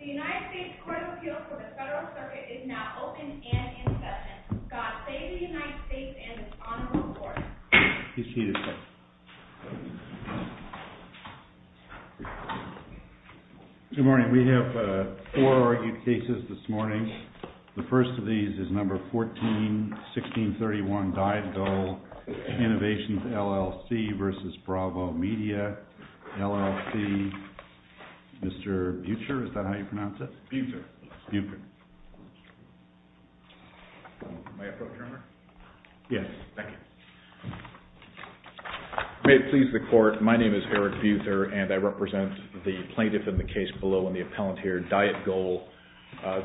The United States Court of Appeals for the Federal Circuit is now open and in session. God save the United States and its honorable court. He's cheated, sir. Good morning. We have four argued cases this morning. The first of these is number 14, 1631, Diet Goal, Innovations, LLC versus Bravo Media, LLC. Mr. Buecher, is that how you pronounce it? Buecher. Buecher. May I approach, Your Honor? Yes. Thank you. May it please the court, my name is Eric Buecher and I represent the plaintiff in the case below and the appellant here, Diet Goal.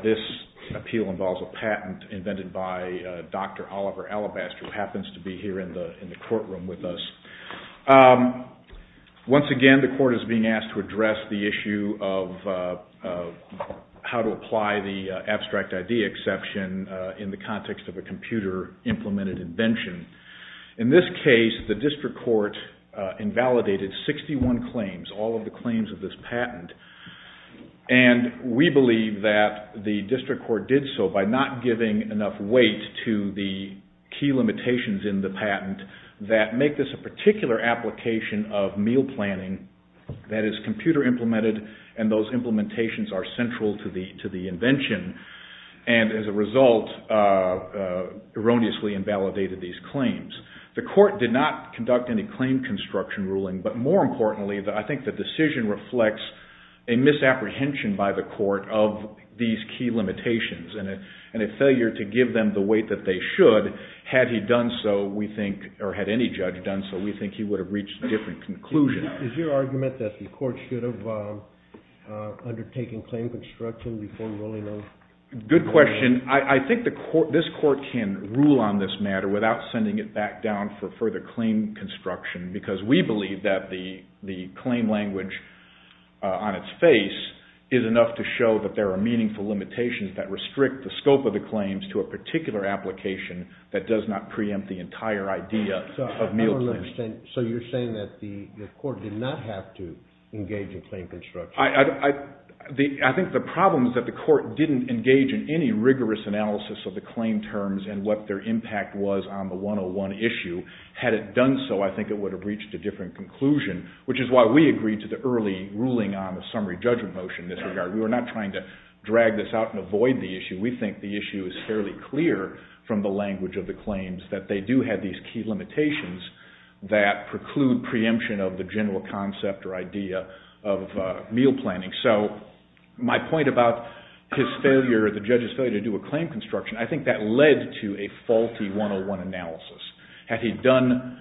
This appeal involves a patent invented by Dr. Oliver Alabaster who happens to be here in the courtroom with us. Once again, the court is being asked to address the issue of how to apply the abstract idea exception in the context of a computer implemented invention. In this case, the district court invalidated 61 claims, all of the claims of this patent. We believe that the district court did so by not giving enough weight to the key limitations in the patent that make this a particular application of meal planning that is computer implemented and those implementations are central to the invention and as a result erroneously invalidated these claims. The court did not conduct any claim construction ruling, but more importantly, I think the decision reflects a misapprehension by the court of these key limitations and a failure to give them the weight that they should had he done so, we think, or had any judge done so, we think he would have reached a different conclusion. Is your argument that the court should have undertaken claim construction before ruling on the patent? Good question. I think this court can rule on this matter without sending it back down for further claim construction, because we believe that the claim language on its face is enough to show that there are meaningful limitations that restrict the scope of the claims to a particular application that does not preempt the entire idea of meal planning. So you're saying that the court did not have to engage in claim construction? I think the problem is that the court didn't engage in any rigorous analysis of the claim terms and what their impact was on the 101 issue. Had it done so, I think it would have reached a different conclusion, which is why we agreed to the early ruling on the summary judgment motion in this regard. We were not trying to drag this out and avoid the issue. We think the issue is fairly clear from the language of the claims that they do have these key limitations that preclude preemption of the general concept or idea of meal planning. So my point about his failure, the judge's failure to do a claim construction, I think that led to a faulty 101 analysis. Had he done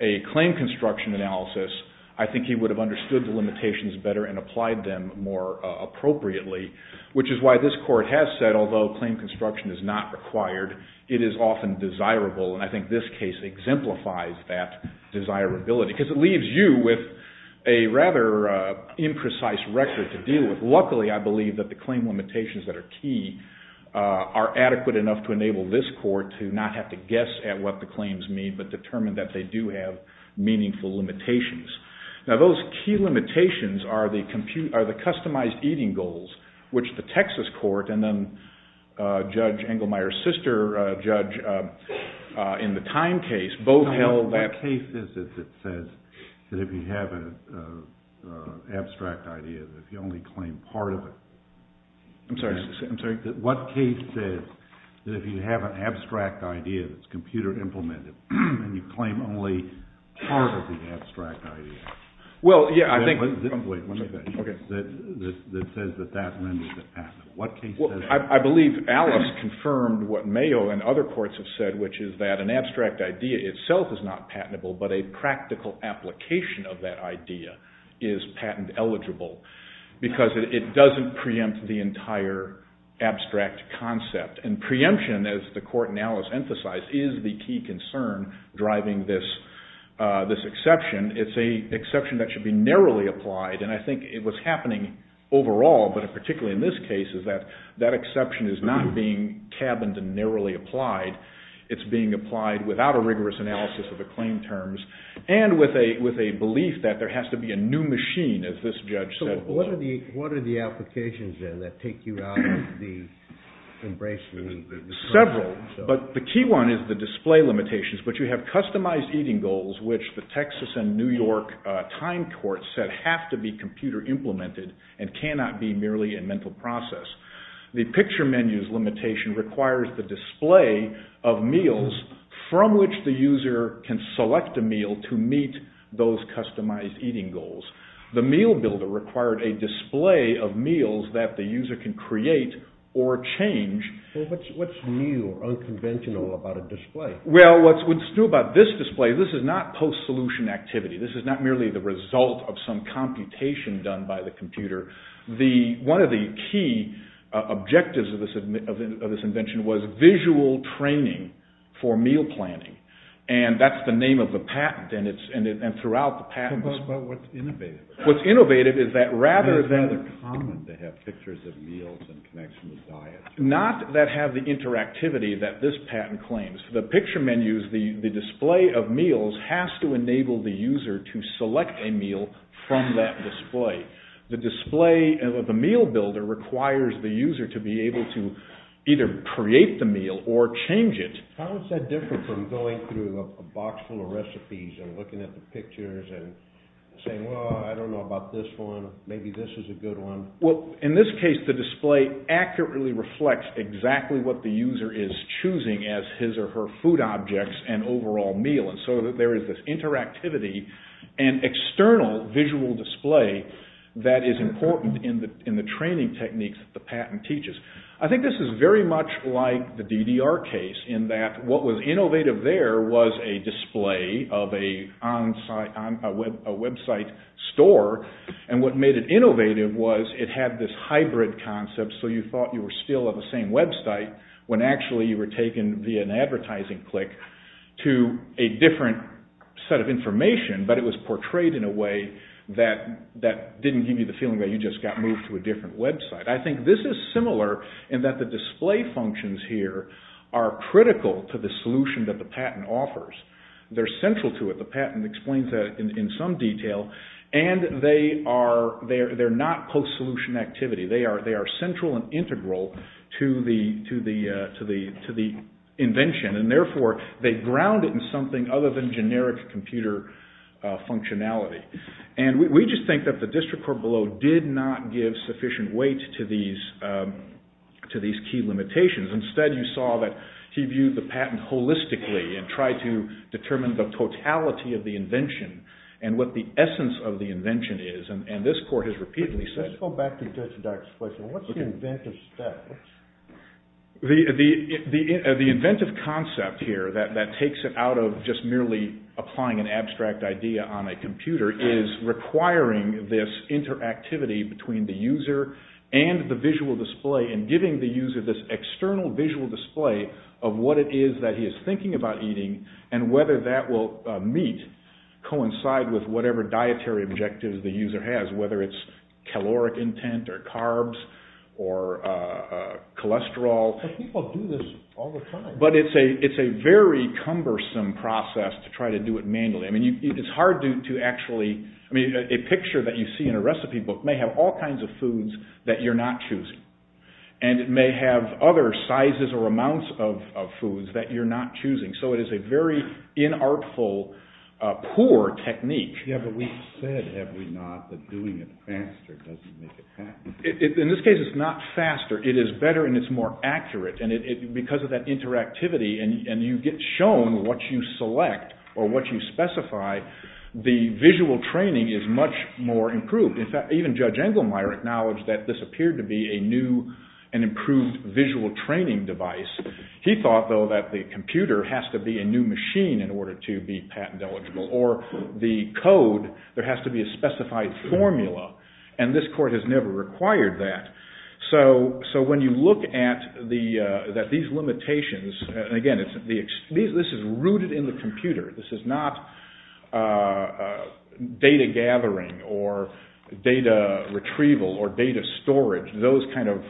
a claim construction analysis, I think he would have understood the limitations better and applied them more appropriately, which is why this court has said, although claim construction is not required, it is often desirable. I think this case exemplifies that desirability, because it leaves you with a rather imprecise record to deal with. Luckily, I believe that the claim limitations that are key are adequate enough to enable this court to not have to guess at what the claims mean, but determine that they do have meaningful limitations. Now those key limitations are the customized eating goals, which the Texas court and then Judge Engelmeyer's sister, Judge, in the time case, both held that… I'm sorry, I'm sorry. What case says that if you have an abstract idea that's computer implemented and you claim only part of the abstract idea… Well, yeah, I think… Wait, one second. Okay. That says that that renders it patentable. What case says that? Because it doesn't preempt the entire abstract concept, and preemption, as the court analysis emphasized, is the key concern driving this exception. It's an exception that should be narrowly applied, and I think what's happening overall, but particularly in this case, is that that exception is not being cabined and narrowly applied. It's being applied without a rigorous analysis of the claim terms and with a belief that there has to be a new machine, as this judge said. What are the applications, then, that take you out of the embracement? Several, but the key one is the display limitations. But you have customized eating goals, which the Texas and New York time courts said have to be computer implemented and cannot be merely a mental process. The picture menus limitation requires the display of meals from which the user can select a meal to meet those customized eating goals. The meal builder required a display of meals that the user can create or change. What's new or unconventional about a display? Well, what's new about this display, this is not post-solution activity. This is not merely the result of some computation done by the computer. One of the key objectives of this invention was visual training for meal planning, and that's the name of the patent, and throughout the patent… Tell us about what's innovative. What's innovative is that rather than… It's rather common to have pictures of meals and connections with diets. Not that have the interactivity that this patent claims. The picture menus, the display of meals, has to enable the user to select a meal from that display. The display of the meal builder requires the user to be able to either create the meal or change it. How is that different from going through a box full of recipes and looking at the pictures and saying, well, I don't know about this one, maybe this is a good one? Well, in this case, the display accurately reflects exactly what the user is choosing as his or her food objects and overall meal, and so there is this interactivity and external visual display that is important in the training techniques that the patent teaches. I think this is very much like the DDR case in that what was innovative there was a display of a website store, and what made it innovative was it had this hybrid concept so you thought you were still at the same website when actually you were taken via an advertising click to a different set of information, but it was portrayed in a way that didn't give you the feeling that you just got moved to a different website. I think this is similar in that the display functions here are critical to the solution that the patent offers. They are central to it. The patent explains that in some detail, and they are not post-solution activity. They are central and integral to the invention, and therefore they ground it in something other than generic computer functionality, and we just think that the district court below did not give sufficient weight to these key limitations. Instead, you saw that he viewed the patent holistically and tried to determine the totality of the invention and what the essence of the invention is, and this court has repeatedly said… Let's go back to Dr. Fletcher. What is the inventive step? The inventive concept here that takes it out of just merely applying an abstract idea on a computer is requiring this interactivity between the user and the visual display and giving the user this external visual display of what it is that he is thinking about eating and whether that will meet, coincide with whatever dietary objectives the user has, whether it is caloric intent or carbs or cholesterol. But people do this all the time. But it is a very cumbersome process to try to do it manually. It is hard to actually…a picture that you see in a recipe book may have all kinds of foods that you are not choosing, and it may have other sizes or amounts of foods that you are not choosing, so it is a very inartful, poor technique. But we have said, have we not, that doing it faster doesn't make it happen? In this case, it is not faster. It is better and it is more accurate. Because of that interactivity and you get shown what you select or what you specify, the visual training is much more improved. In fact, even Judge Engelmeyer acknowledged that this appeared to be a new and improved visual training device. He thought, though, that the computer has to be a new machine in order to be patent eligible, or the code, there has to be a specified formula, and this court has never required that. So when you look at these limitations, and again, this is rooted in the computer. This is not data gathering or data retrieval or data storage, those kind of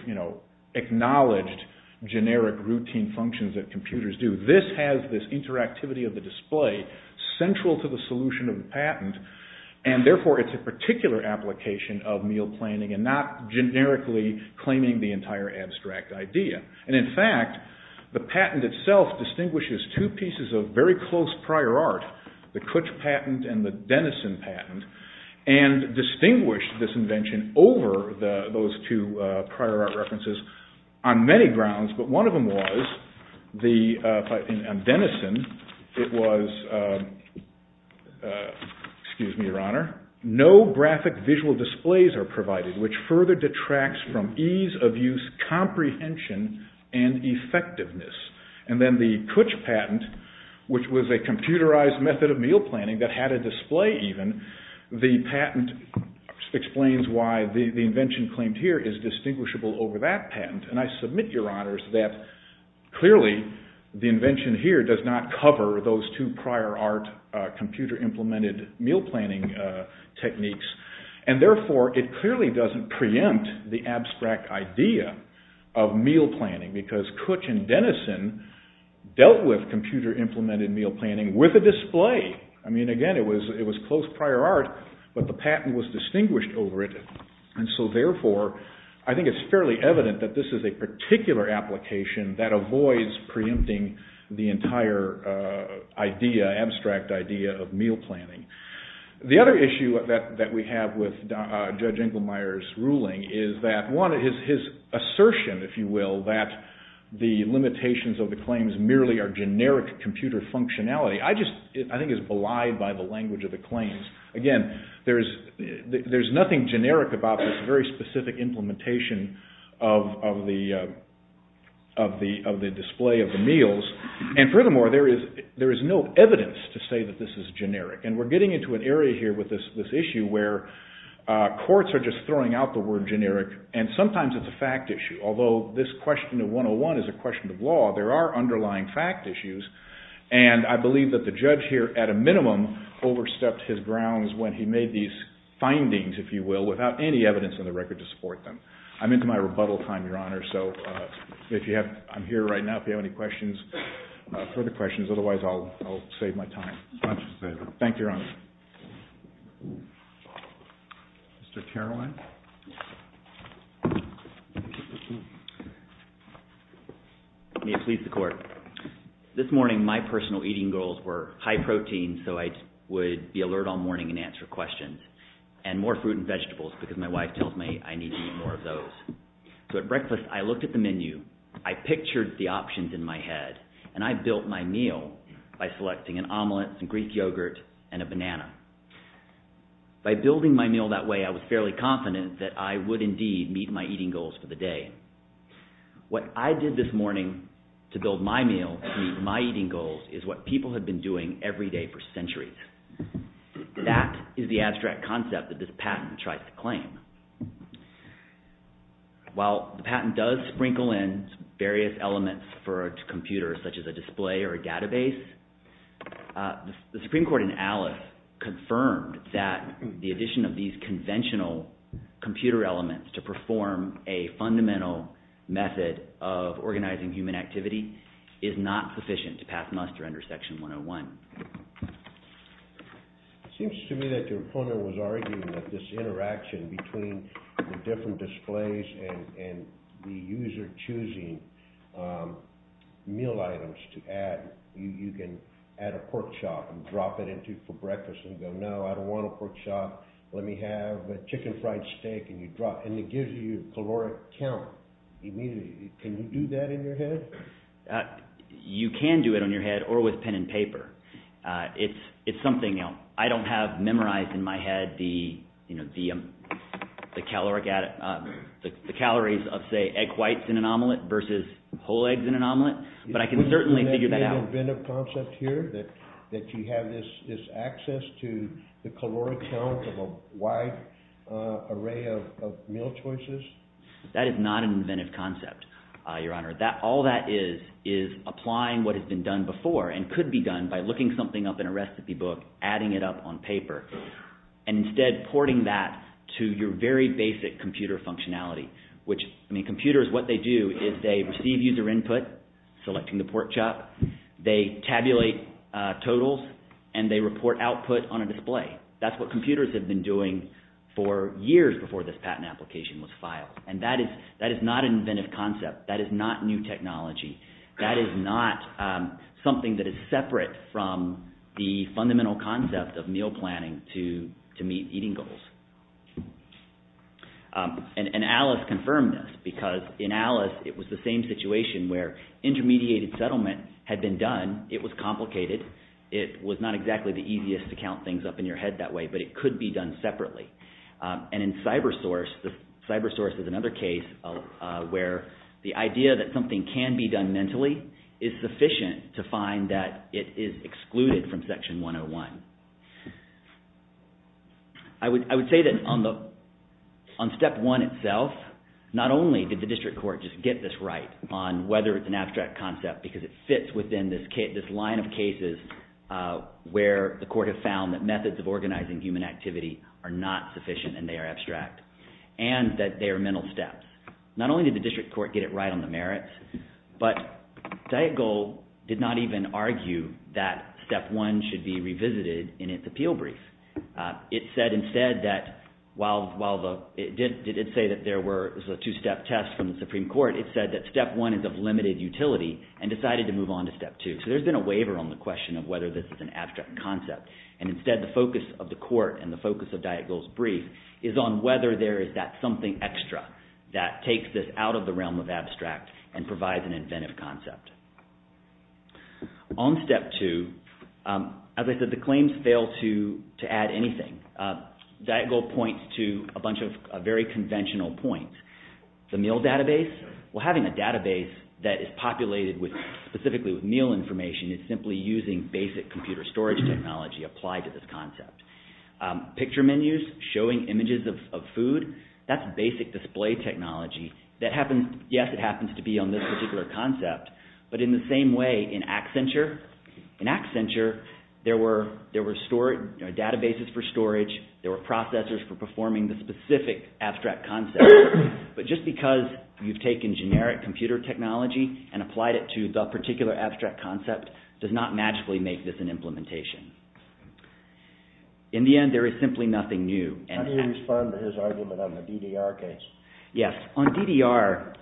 acknowledged generic routine functions that computers do. This has this interactivity of the display central to the solution of the patent, and therefore it is a particular application of meal planning and not generically claiming the entire abstract idea. And in fact, the patent itself distinguishes two pieces of very close prior art, the Kutch patent and the Dennison patent, and distinguished this invention over those two prior art references on many grounds, but one of them was, in Dennison, it was, excuse me, Your Honor, no graphic visual displays are provided, which further detracts from ease of use, comprehension, and effectiveness. And then the Kutch patent, which was a computerized method of meal planning that had a display even, the patent explains why the invention claimed here is distinguishable over that patent, and I submit, Your Honors, that clearly the invention here does not cover those two prior art computer-implemented meal planning techniques, and therefore it clearly doesn't preempt the abstract idea of meal planning, because Kutch and Dennison dealt with computer-implemented meal planning with a display. I mean, again, it was close prior art, but the patent was distinguished over it, and so therefore I think it's fairly evident that this is a particular application that avoids preempting the entire idea, abstract idea of meal planning. The other issue that we have with Judge Inglemeyer's ruling is that, one, his assertion, if you will, that the limitations of the claims merely are generic computer functionality, I just think is belied by the language of the claims. Again, there's nothing generic about this very specific implementation of the display of the meals, and furthermore, there is no evidence to say that this is generic, and we're getting into an area here with this issue where courts are just throwing out the word generic, and sometimes it's a fact issue, although this question of 101 is a question of law, there are underlying fact issues, and I believe that the judge here, at a minimum, overstepped his grounds when he made these findings, if you will, without any evidence on the record to support them. I'm into my rebuttal time, Your Honor, so if you have – I'm here right now, if you have any questions, further questions, otherwise I'll save my time. Thank you, Your Honor. Mr. Caroline? May it please the Court. This morning my personal eating goals were high protein, so I would be alert all morning and answer questions, and more fruit and vegetables because my wife tells me I need to eat more of those. So at breakfast I looked at the menu, I pictured the options in my head, and I built my meal by selecting an omelet, some Greek yogurt, and a banana. By building my meal that way I was fairly confident that I would indeed meet my eating goals for the day. What I did this morning to build my meal to meet my eating goals is what people have been doing every day for centuries. That is the abstract concept that this patent tries to claim. While the patent does sprinkle in various elements for a computer such as a display or a database, the Supreme Court in Alice confirmed that the addition of these conventional computer elements to perform a fundamental method of organizing human activity is not sufficient to pass muster under Section 101. It seems to me that your opponent was arguing that this interaction between the different displays and the user choosing meal items to add. You can add a pork chop and drop it in for breakfast and go, no, I don't want a pork chop. Let me have a chicken fried steak and you drop, and it gives you a caloric count. Can you do that in your head? You can do it in your head or with pen and paper. It's something else. I don't have memorized in my head the calories of, say, egg whites in an omelet versus whole eggs in an omelet, but I can certainly figure that out. Isn't there an inventive concept here that you have this access to the caloric count of a wide array of meal choices? That is not an inventive concept, Your Honor. All that is is applying what has been done before and could be done by looking something up in a recipe book, adding it up on paper, and instead porting that to your very basic computer functionality. Computers, what they do is they receive user input, selecting the pork chop. They tabulate totals, and they report output on a display. That's what computers have been doing for years before this patent application was filed, and that is not an inventive concept. That is not new technology. That is not something that is separate from the fundamental concept of meal planning to meet eating goals. And Alice confirmed this because, in Alice, it was the same situation where intermediated settlement had been done. It was complicated. It was not exactly the easiest to count things up in your head that way, but it could be done separately. And in CyberSource, CyberSource is another case where the idea that something can be done mentally is sufficient to find that it is excluded from Section 101. I would say that on Step 1 itself, not only did the district court just get this right on whether it's an abstract concept because it fits within this line of cases where the court has found that methods of organizing human activity are not sufficient and they are abstract, and that they are mental steps. Not only did the district court get it right on the merits, but Dietgold did not even argue that Step 1 should be revisited in its appeal brief. It said instead that while it did say that there were two-step tests from the Supreme Court, it said that Step 1 is of limited utility and decided to move on to Step 2. So there's been a waiver on the question of whether this is an abstract concept. And instead, the focus of the court and the focus of Dietgold's brief is on whether there is that something extra that takes this out of the realm of abstract and provides an inventive concept. On Step 2, as I said, the claims fail to add anything. Dietgold points to a bunch of very conventional points. The meal database, well, having a database that is populated specifically with meal information is simply using basic computer storage technology applied to this concept. Picture menus showing images of food, that's basic display technology. Yes, it happens to be on this particular concept, but in the same way in Accenture, in Accenture there were databases for storage, there were processors for performing the specific abstract concept. But just because you've taken generic computer technology and applied it to the particular abstract concept does not magically make this an implementation. In the end, there is simply nothing new. How do you respond to his argument on the DDR case? Yes, on DDR,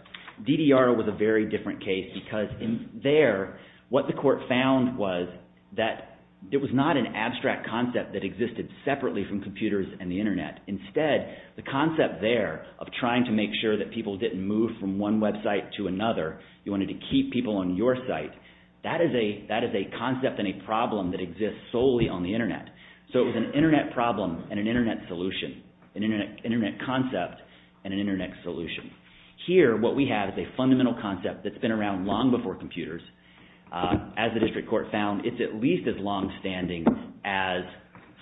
DDR was a very different case because there what the court found was that it was not an abstract concept that existed separately from computers and the Internet. Instead, the concept there of trying to make sure that people didn't move from one website to another, you wanted to keep people on your site, that is a concept and a problem that exists solely on the Internet. So it was an Internet problem and an Internet solution, an Internet concept and an Internet solution. Here, what we have is a fundamental concept that's been around long before computers. As the district court found, it's at least as longstanding as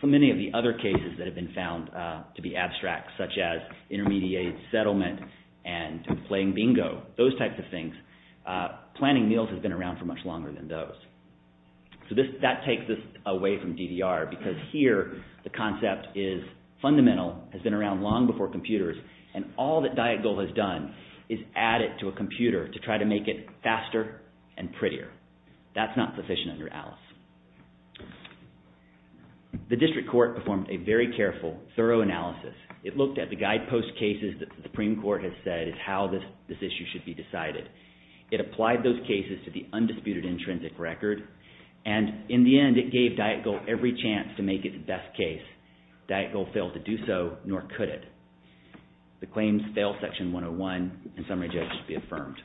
so many of the other cases that have been found to be abstract, such as intermediate settlement and playing bingo, those types of things. Planning meals has been around for much longer than those. So that takes us away from DDR because here the concept is fundamental, has been around long before computers, and all that Diet Goal has done is add it to a computer to try to make it faster and prettier. That's not sufficient under Alice. The district court performed a very careful, thorough analysis. It looked at the guidepost cases that the Supreme Court has said is how this issue should be decided. It applied those cases to the undisputed intrinsic record, and in the end, it gave Diet Goal every chance to make it the best case. Diet Goal failed to do so, nor could it. The claims fail Section 101. In summary, Judge, it should be affirmed.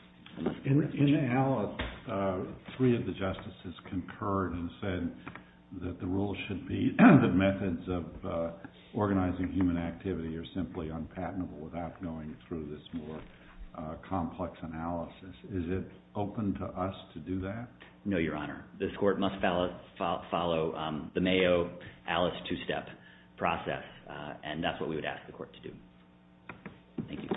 In Alice, three of the justices concurred and said that the rule should be that methods of organizing human activity are simply unpatentable without going through this more complex analysis. Is it open to us to do that? No, Your Honor. This court must follow the Mayo-Alice two-step process, and that's what we would ask the court to do. Thank you.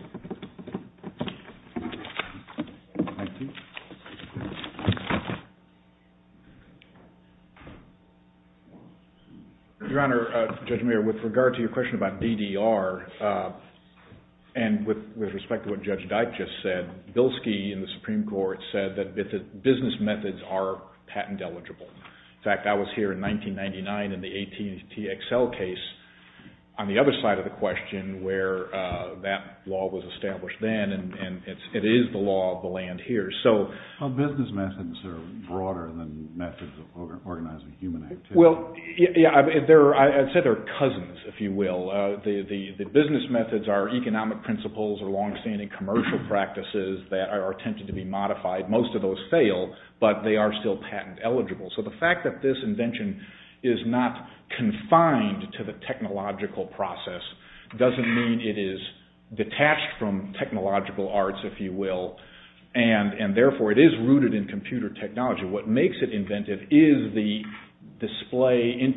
Your Honor, Judge Mayer, with regard to your question about DDR, and with respect to what Judge Dyke just said, Bilski in the Supreme Court said that business methods are patent eligible. In fact, I was here in 1999 in the AT&T Excel case on the other side of the question where that law was established then, and it is the law of the land here. Well, business methods are broader than methods of organizing human activity. Well, yeah, I'd say they're cousins, if you will. The business methods are economic principles or long-standing commercial practices that are attempted to be modified. Most of those fail, but they are still patent eligible. So the fact that this invention is not confined to the technological process doesn't mean it is detached from technological arts, if you will, and therefore it is rooted in computer technology. What makes it inventive is the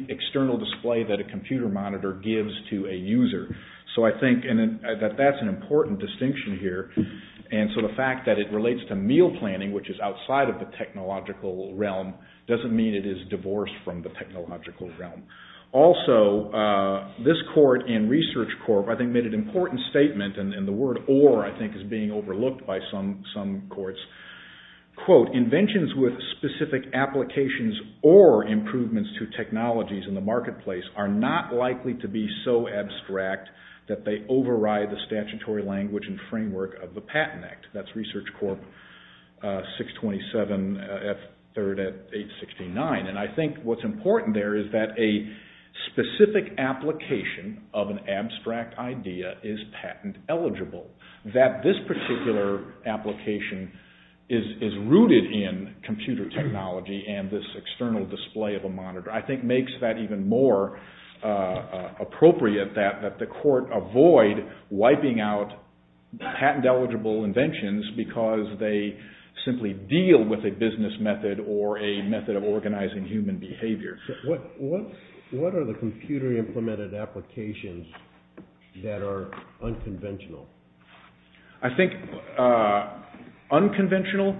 external display that a computer monitor gives to a user. So I think that that's an important distinction here, and so the fact that it relates to meal planning, which is outside of the technological realm, doesn't mean it is divorced from the technological realm. Also, this court and research court, I think, made an important statement, and the word or, I think, is being overlooked by some courts. Quote, inventions with specific applications or improvements to technologies in the marketplace are not likely to be so abstract that they override the statutory language and framework of the Patent Act. That's Research Corp. 627, third at 869. And I think what's important there is that a specific application of an abstract idea is patent eligible, that this particular application is rooted in computer technology and this external display of a monitor. I think it makes that even more appropriate that the court avoid wiping out patent eligible inventions because they simply deal with a business method or a method of organizing human behavior. What are the computer-implemented applications that are unconventional? I think unconventional,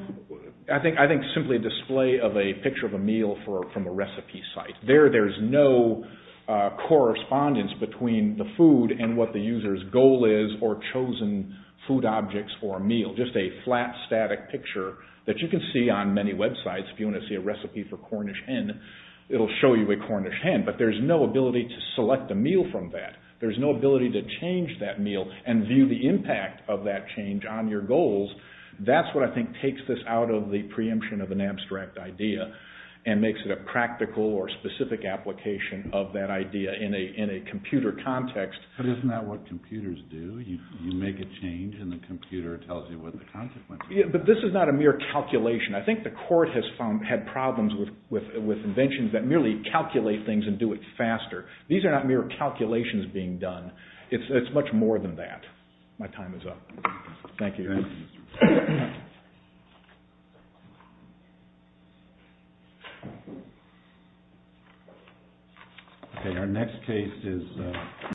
I think simply a display of a picture of a meal from a recipe site. There, there's no correspondence between the food and what the user's goal is or chosen food objects for a meal, just a flat, static picture that you can see on many websites. If you want to see a recipe for Cornish hen, it'll show you a Cornish hen, but there's no ability to select a meal from that. There's no ability to change that meal and view the impact of that change on your goals. That's what I think takes this out of the preemption of an abstract idea and makes it a practical or specific application of that idea in a computer context. But isn't that what computers do? You make a change and the computer tells you what the consequences are. But this is not a mere calculation. I think the court has had problems with inventions that merely calculate things and do it faster. These are not mere calculations being done. It's much more than that. My time is up. Thank you.